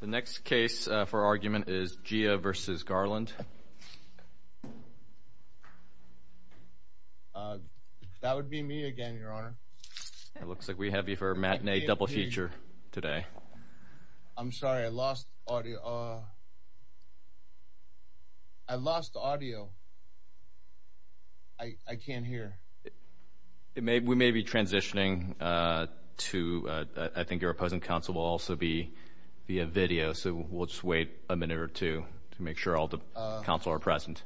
The next case for argument is Jia v. Garland. That would be me again, Your Honor. It looks like we have you for a matinee double feature today. I'm sorry. I lost audio. I lost audio. I can't hear. We may be transitioning to – I think your opposing counsel will also be via video, so we'll just wait a minute or two to make sure all the counsel are present.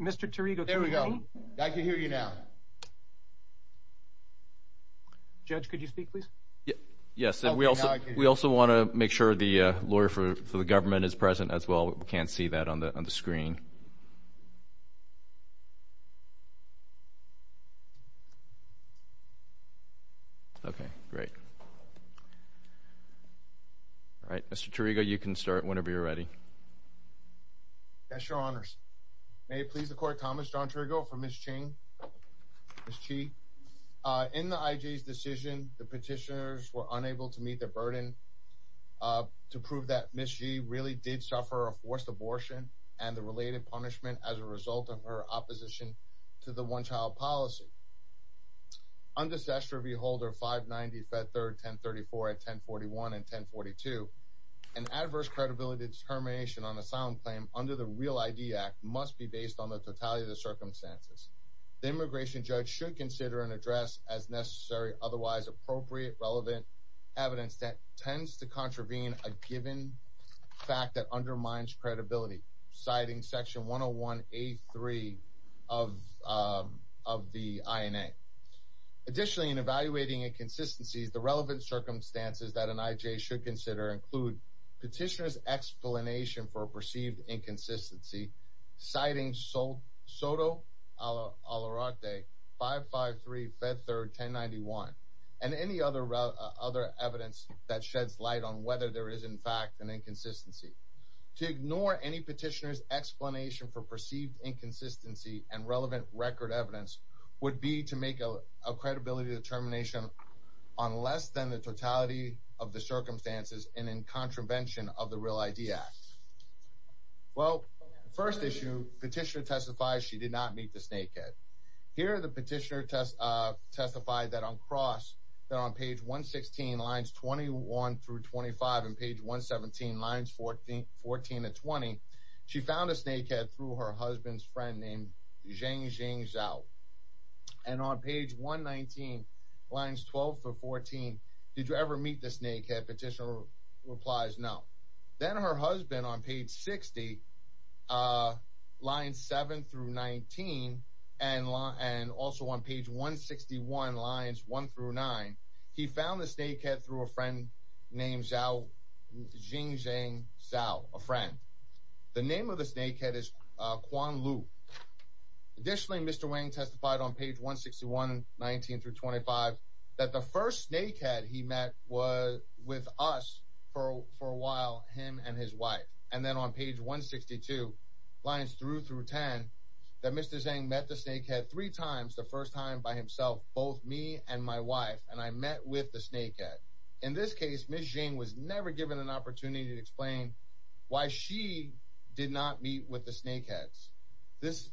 Mr. Tirico, can you hear me? There we go. I can hear you now. Judge, could you speak, please? Yes. We also want to make sure the lawyer for the government is present as well. We can't see that on the screen. Okay. Great. All right. Mr. Tirico, you can start whenever you're ready. Yes, Your Honors. May it please the Court, Thomas John Tirico for Ms. Chi. In the IG's decision, the petitioners were unable to meet their burden to prove that Ms. Chi really did suffer a forced abortion and the related punishment as a result of her opposition to the one-child policy. Under Statute Review Holder 590, Fed 3rd, 1034 at 1041 and 1042, an adverse credibility determination on a silent claim under the REAL ID Act must be based on the totality of the circumstances. The immigration judge should consider and address as necessary, otherwise appropriate, relevant evidence that tends to contravene a given fact that undermines credibility, citing Section 101A3 of the INA. Additionally, in evaluating inconsistencies, the relevant circumstances that an IJ should consider include petitioner's explanation for a perceived inconsistency, citing SOTO, 553, Fed 3rd, 1091, and any other evidence that sheds light on whether there is, in fact, an inconsistency. To ignore any petitioner's explanation for perceived inconsistency and relevant record evidence would be to make a credibility determination on less than the totality of the circumstances and in contravention of the REAL ID Act. Well, the first issue, petitioner testifies she did not meet the snakehead. Here, the petitioner testified that on cross, that on page 116, lines 21 through 25, and page 117, lines 14 to 20, she found a snakehead through her husband's friend named Zhengxing Zhao. And on page 119, lines 12 through 14, did you ever meet the snakehead? Petitioner replies no. Then her husband, on page 60, lines 7 through 19, and also on page 161, lines 1 through 9, he found the snakehead through a friend named Zhengxing Zhao, a friend. The name of the snakehead is Quan Lu. Additionally, Mr. Wang testified on page 161, 19 through 25, that the first snakehead he met was with us for a while, him and his wife. And then on page 162, lines 3 through 10, that Mr. Zheng met the snakehead three times, the first time by himself, both me and my wife, and I met with the snakehead. In this case, Ms. Zheng was never given an opportunity to explain why she did not meet with the snakeheads.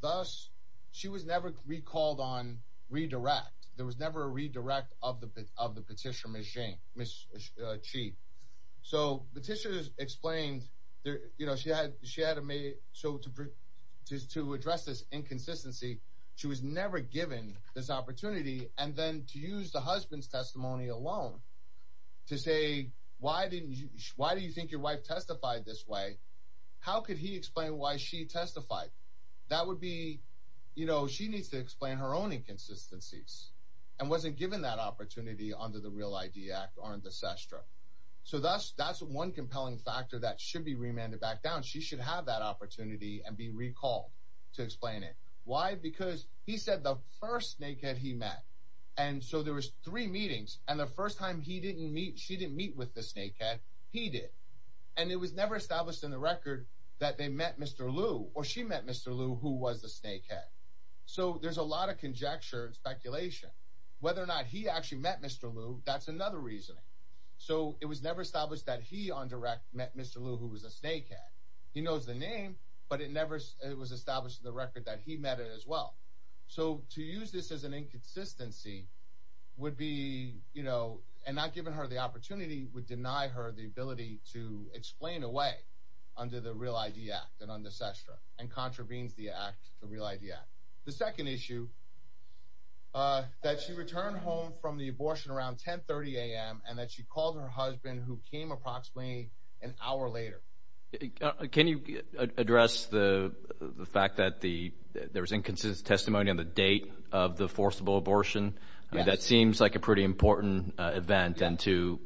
Thus, she was never recalled on redirect. There was never a redirect of the petitioner, Ms. Qi. So petitioners explained, you know, she had to address this inconsistency. She was never given this opportunity. And then to use the husband's testimony alone to say, why do you think your wife testified this way? How could he explain why she testified? That would be, you know, she needs to explain her own inconsistencies and wasn't given that opportunity under the Real ID Act or under SESTRA. So that's one compelling factor that should be remanded back down. She should have that opportunity and be recalled to explain it. Why? Because he said the first snakehead he met. And so there was three meetings, and the first time he didn't meet, she didn't meet with the snakehead, he did. And it was never established in the record that they met Mr. Lu or she met Mr. Lu, who was the snakehead. So there's a lot of conjecture and speculation whether or not he actually met Mr. Lu. That's another reasoning. So it was never established that he on direct met Mr. Lu, who was a snakehead. He knows the name, but it never was established in the record that he met it as well. So to use this as an inconsistency would be, you know, and not giving her the opportunity would deny her the ability to explain away under the Real ID Act and under SESTRA and contravenes the Act, the Real ID Act. The second issue, that she returned home from the abortion around 1030 a.m. and that she called her husband, who came approximately an hour later. Can you address the fact that there was inconsistent testimony on the date of the forcible abortion? I mean, that seems like a pretty important event. And to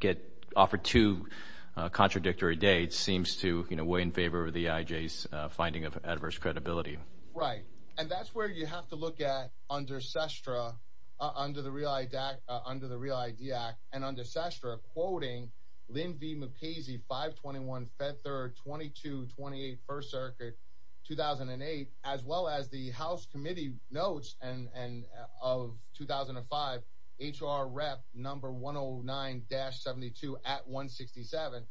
get offered two contradictory dates seems to weigh in favor of the IJ's finding of adverse credibility. Right, and that's where you have to look at under SESTRA, under the Real ID Act, and under SESTRA quoting Lin V. Mukasey, 521 Fed 3rd, 2228 First Circuit, 2008, as well as the House Committee notes of 2005, H.R. Rep. No. 109-72 at 167.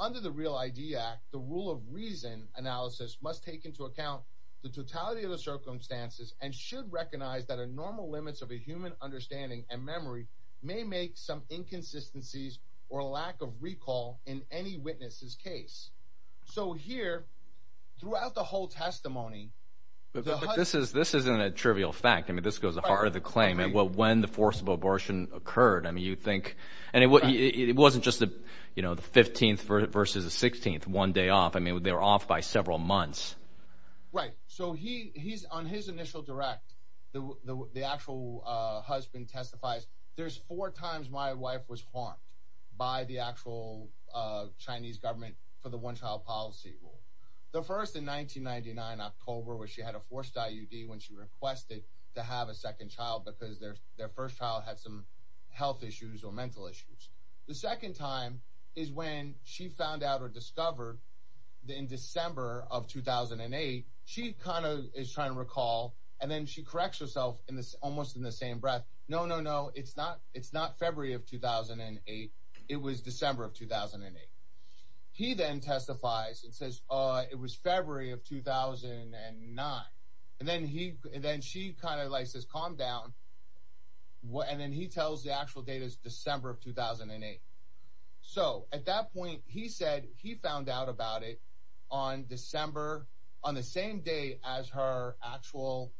Under the Real ID Act, the rule of reason analysis must take into account the totality of the circumstances and should recognize that a normal limits of a human understanding and memory may make some inconsistencies or lack of recall in any witness's case. So here, throughout the whole testimony... But this isn't a trivial fact. I mean, this goes to the heart of the claim. When the forcible abortion occurred, I mean, you think... And it wasn't just the 15th versus the 16th, one day off. I mean, they were off by several months. Right, so on his initial direct, the actual husband testifies, there's four times my wife was harmed by the actual Chinese government for the one-child policy rule. The first in 1999, October, where she had a forced IUD when she requested to have a second child because their first child had some health issues or mental issues. The second time is when she found out or discovered in December of 2008, she kind of is trying to recall, and then she corrects herself almost in the same breath, no, no, no, it's not February of 2008. It was December of 2008. He then testifies and says, it was February of 2009. And then she kind of like says, calm down. And then he tells the actual date is December of 2008. So at that point, he said he found out about it on December, on the same day as her actual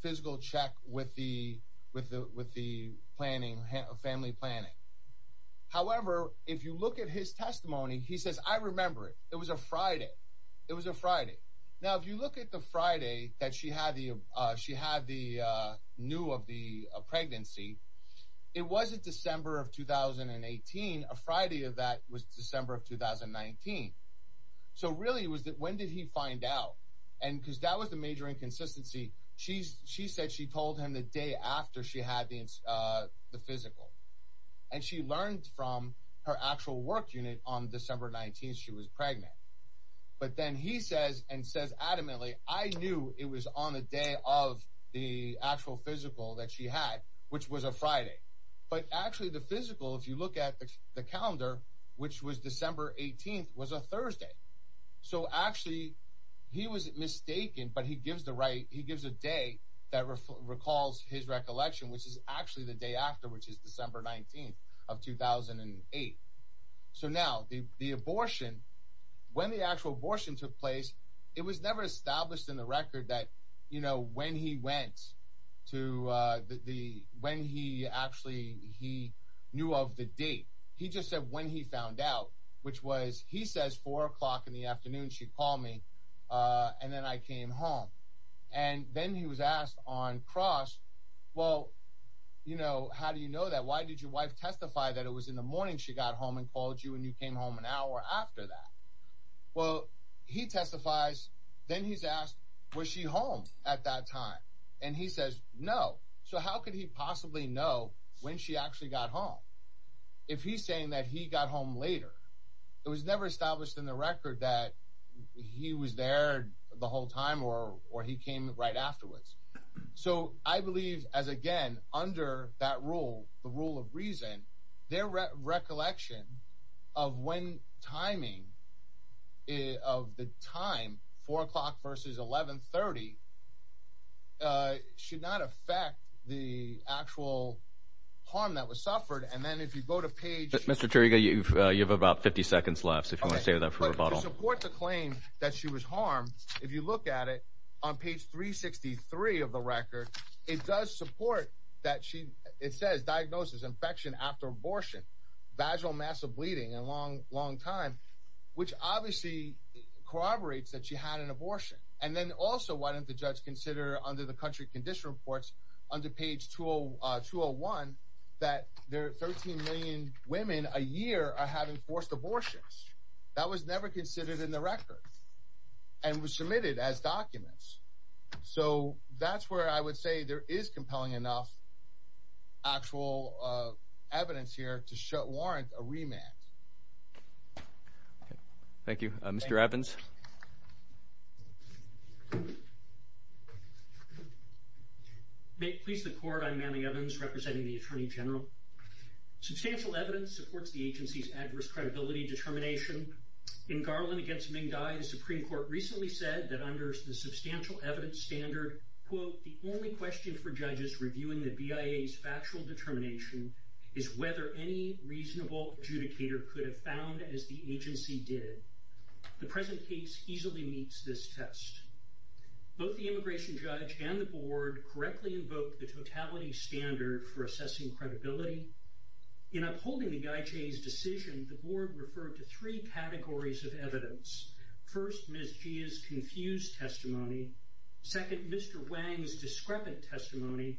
physical check with the family planning. However, if you look at his testimony, he says, I remember it, it was a Friday. It was a Friday. Now, if you look at the Friday that she had the new of the pregnancy, it wasn't December of 2018, a Friday of that was December of 2019. So really it was that when did he find out? And because that was the major inconsistency. She said she told him the day after she had the physical. And she learned from her actual work unit on December 19th, she was pregnant. But then he says and says adamantly, I knew it was on the day of the actual physical that she had, which was a Friday. But actually the physical, if you look at the calendar, which was December 18th was a Thursday. So actually he was mistaken, but he gives the right, he gives a day that recalls his recollection, which is actually the day after, which is December 19th of 2008. So now the abortion, when the actual abortion took place, it was never established in the record that, you know, when he went to the, when he actually, he knew of the date. He just said when he found out, which was, he says four o'clock in the afternoon, she called me and then I came home. And then he was asked on cross, well, you know, how do you know that? Why did your wife testify that it was in the morning she got home and called you and you came home an hour after that? Well, he testifies. Then he's asked, was she home at that time? And he says no. So how could he possibly know when she actually got home? If he's saying that he got home later, it was never established in the record that he was there the whole time or, or he came right afterwards. So I believe as again, under that rule, the rule of reason, their recollection of when timing of the time, four o'clock versus 1130, uh, should not affect the actual harm that was suffered. And then if you go to page Mr. Turiga, you've, uh, you have about 50 seconds left. So if you want to stay with that for a bottle, support the claim that she was harmed. If you look at it on page three 63 of the record, it does support that. She, it says diagnosis infection after abortion, vaginal massive bleeding and long, long time, which obviously corroborates that she had an abortion. And then also why didn't the judge consider under the country condition reports under page tool, uh, tool one that there are 13 million women a year are having forced abortions. That was never considered in the record and was submitted as documents. So that's where I would say there is compelling enough actual, uh, evidence here to show warrant a remand. Thank you, Mr. Evans. May it please the court. I'm Manny Evans representing the attorney general. Substantial evidence supports the agency's adverse credibility determination in Garland against Ming Dai. The Supreme court recently said that under the substantial evidence standard, quote, the only question for judges reviewing the BIA is factual determination is whether any reasonable adjudicator could have found as the agency did. The present case easily meets this test. Both the immigration judge and the board correctly invoked the totality standard for assessing credibility in upholding the guy. Jay's decision. The board referred to three categories of evidence. First, Ms. G is confused. Testimony. Second, Mr. Wang's discrepant testimony.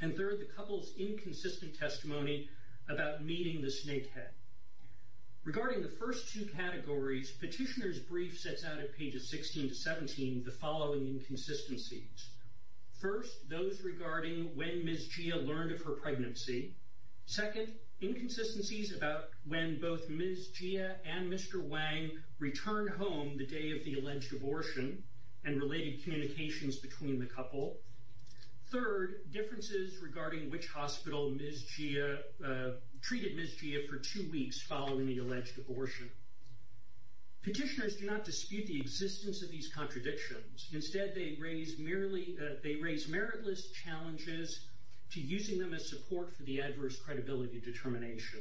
And third, the couple's inconsistent testimony about meeting the snake head regarding the first two categories. Petitioner's brief sets out at pages 16 to 17, the following inconsistencies. First, those regarding when Ms. Gia learned of her pregnancy. Second inconsistencies about when both Ms. Gia and Mr. Wang returned home the day of the alleged abortion and related communications between the couple. Third differences regarding which hospital Ms. Gia treated Ms. Gia for two weeks following the alleged abortion. Petitioners do not dispute the existence of these contradictions. Instead, they raise merely that they raise meritless challenges to using them as support for the adverse credibility determination.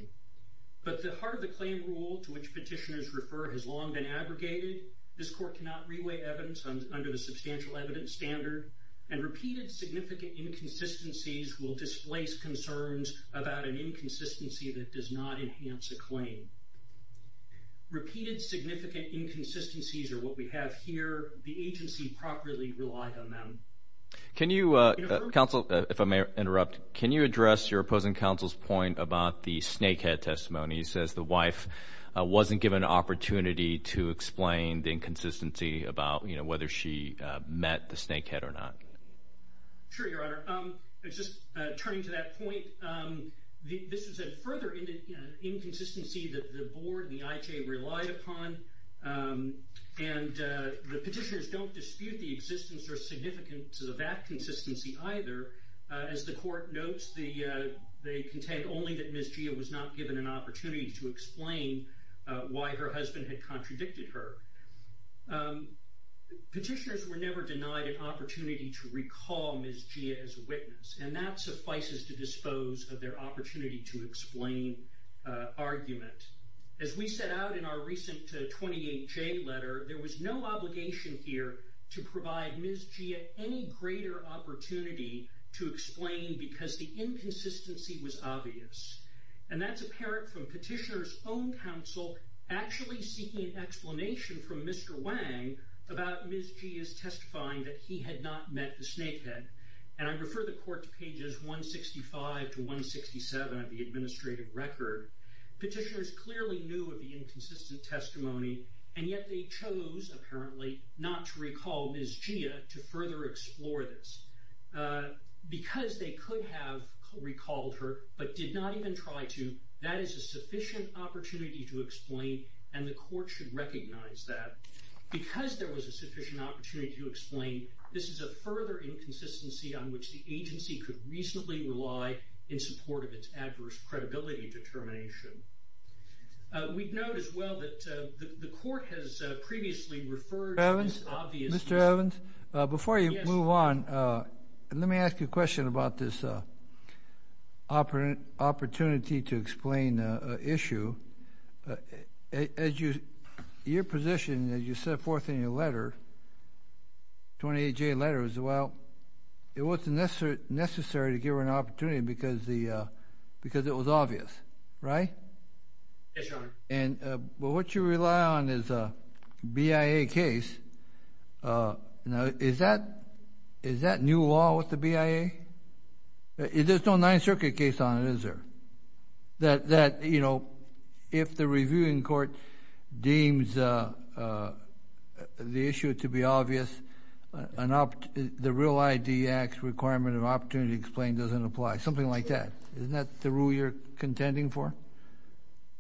But the heart of the claim rule to which petitioners refer has long been aggregated. This court cannot re-weigh evidence under the substantial evidence standard, and repeated significant inconsistencies will displace concerns about an inconsistency that does not enhance a claim. Repeated significant inconsistencies are what we have here. The agency properly relied on them. Can you, counsel, if I may interrupt, can you address your opposing counsel's point about the snake head testimony? He says the wife wasn't given an opportunity to explain the inconsistency about, you know, whether she met the snake head or not. Sure, Your Honor. Just turning to that point, this is a further inconsistency that the board and the IJ relied upon, and the petitioners don't dispute the existence or significance of that statement. The court notes they contend only that Ms. Gia was not given an opportunity to explain why her husband had contradicted her. Petitioners were never denied an opportunity to recall Ms. Gia as a witness, and that suffices to dispose of their opportunity to explain argument. As we set out in our recent 28J letter, there was no obligation here to provide Ms. Gia any greater opportunity to explain, because the inconsistency was obvious. And that's apparent from petitioners' own counsel actually seeking an explanation from Mr. Wang about Ms. Gia's testifying that he had not met the snake head. And I refer the court to pages 165 to 167 of the administrative record. Petitioners clearly knew of the inconsistent testimony, and yet they chose, apparently, not to recall Ms. Gia to further explore this. Because they could have recalled her, but did not even try to, that is a sufficient opportunity to explain, and the court should recognize that. Because there was a sufficient opportunity to explain, this is a further inconsistency on which the agency could reasonably rely in support of its adverse credibility determination. We note as well that the court has previously referred to this obvious inconsistency. Mr. Evans, before you move on, let me ask you a question about this opportunity to explain an issue. Your position, as you set forth in your letter, 28J letter, it wasn't necessary to give her an opportunity because it was obvious, right? Yes, Your Honor. But what you rely on is a BIA case. Now, is that new law with the BIA? There's no Ninth Circuit case on it, is there? That, you know, if the reviewing court deems the issue to be obvious, the Real ID Act's requirement of opportunity to explain doesn't apply, something like that. Isn't that the rule you're contending for?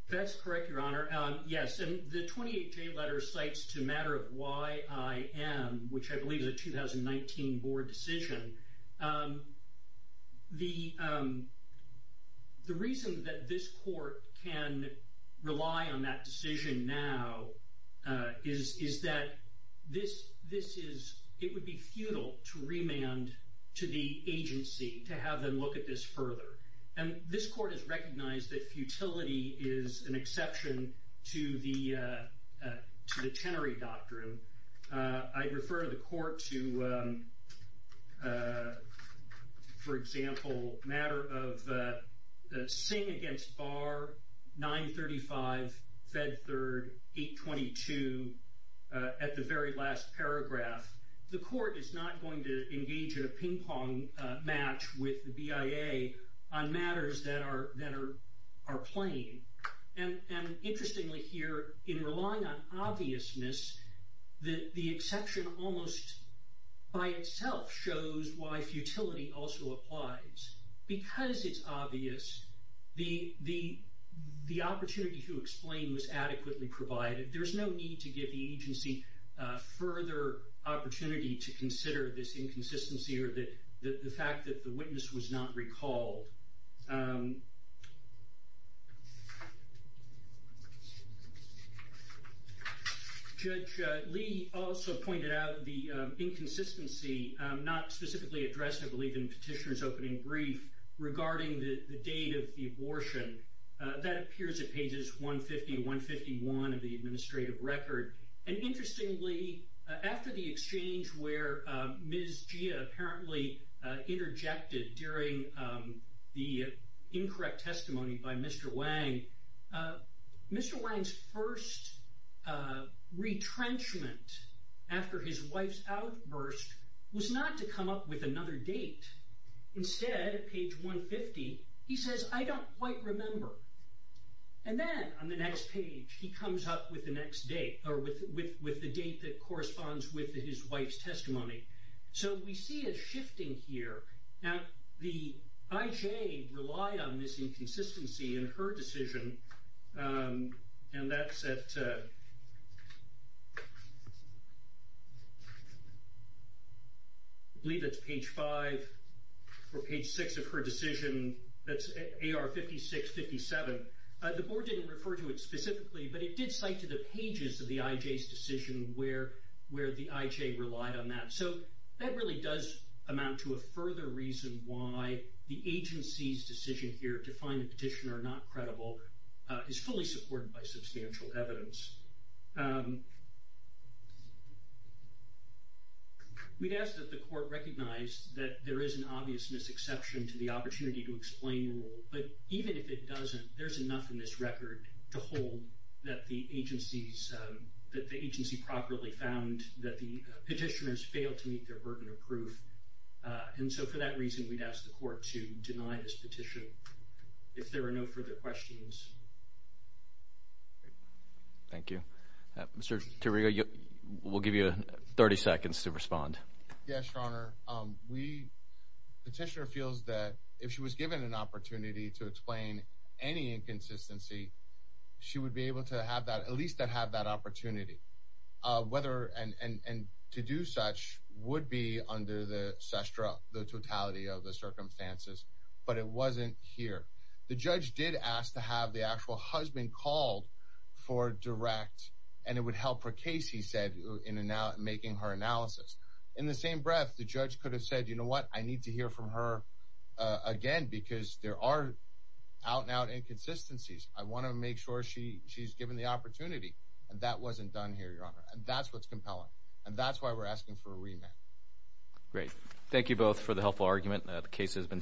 That's correct, Your Honor. Yes. And the 28J letter cites to matter of YIM, which I believe is a 2019 board decision. The reason that this court can rely on that decision now is that this is, it would be futile to remand to the agency to have them look at this further. And this court has recognized that futility is an exception to the Tenery Doctrine. I'd refer the court to, for example, matter of Singh against Barr, 935, Fed Third, 822. At the very last paragraph, the court is not going to engage in a ping pong match with the BIA on matters that are plain. And interestingly here, in relying on obviousness, the exception almost by itself shows why futility also applies. Because it's obvious, the opportunity to explain was adequately provided. There's no need to give the agency further opportunity to consider this inconsistency or the fact that the witness was not recalled. Judge Lee also pointed out the inconsistency, not specifically addressed, I believe, in Petitioner's opening brief regarding the date of the abortion. That appears at pages 150 and 151 of the administrative record. And interestingly, after the exchange where Ms. Gia apparently interjected during the incorrect testimony by Mr. Wang, Mr. Wang's first retrenchment after his wife's outburst was not to come up with another date. Instead, at page 150, he says, I don't quite remember. And then on the next page, he comes up with the next date, or with the date that corresponds with his wife's testimony. So we see a shifting here. Now, the IJ relied on this inconsistency in her decision, and that's at, I believe that's page 5 or page 6 of her decision. That's AR 5657. The board didn't refer to it specifically, but it did cite to the pages of the IJ's decision where the IJ relied on that. So that really does amount to a further reason why the agency's decision here to find the petitioner not credible is fully supported by substantial evidence. We'd ask that the court recognize that there is an obvious misexception to the opportunity to explain rule. But even if it doesn't, there's enough in this record to hold that the agency's, that the agency properly found that the petitioners failed to meet their burden of proof. And so for that reason, we'd ask the court to deny this petition if there are no further questions. Thank you. Mr. Terrio, we'll give you 30 seconds to respond. Yes, Your Honor. We petitioner feels that if she was given an opportunity to explain any inconsistency, she would be able to have that at least that have that opportunity whether and to do such would be under the Sestra, the totality of the circumstances, but it wasn't here. The judge did ask to have the actual husband called for direct and it would help her case. He said in and out and making her analysis in the same breath, the judge could have said, you know what I need to hear from her again because there are out and out inconsistencies. I want to make sure she, she's given the opportunity and that wasn't done here. Your Honor. And that's what's compelling. And that's why we're asking for a remit. Great. Thank you both for the helpful argument. The case has been submitted.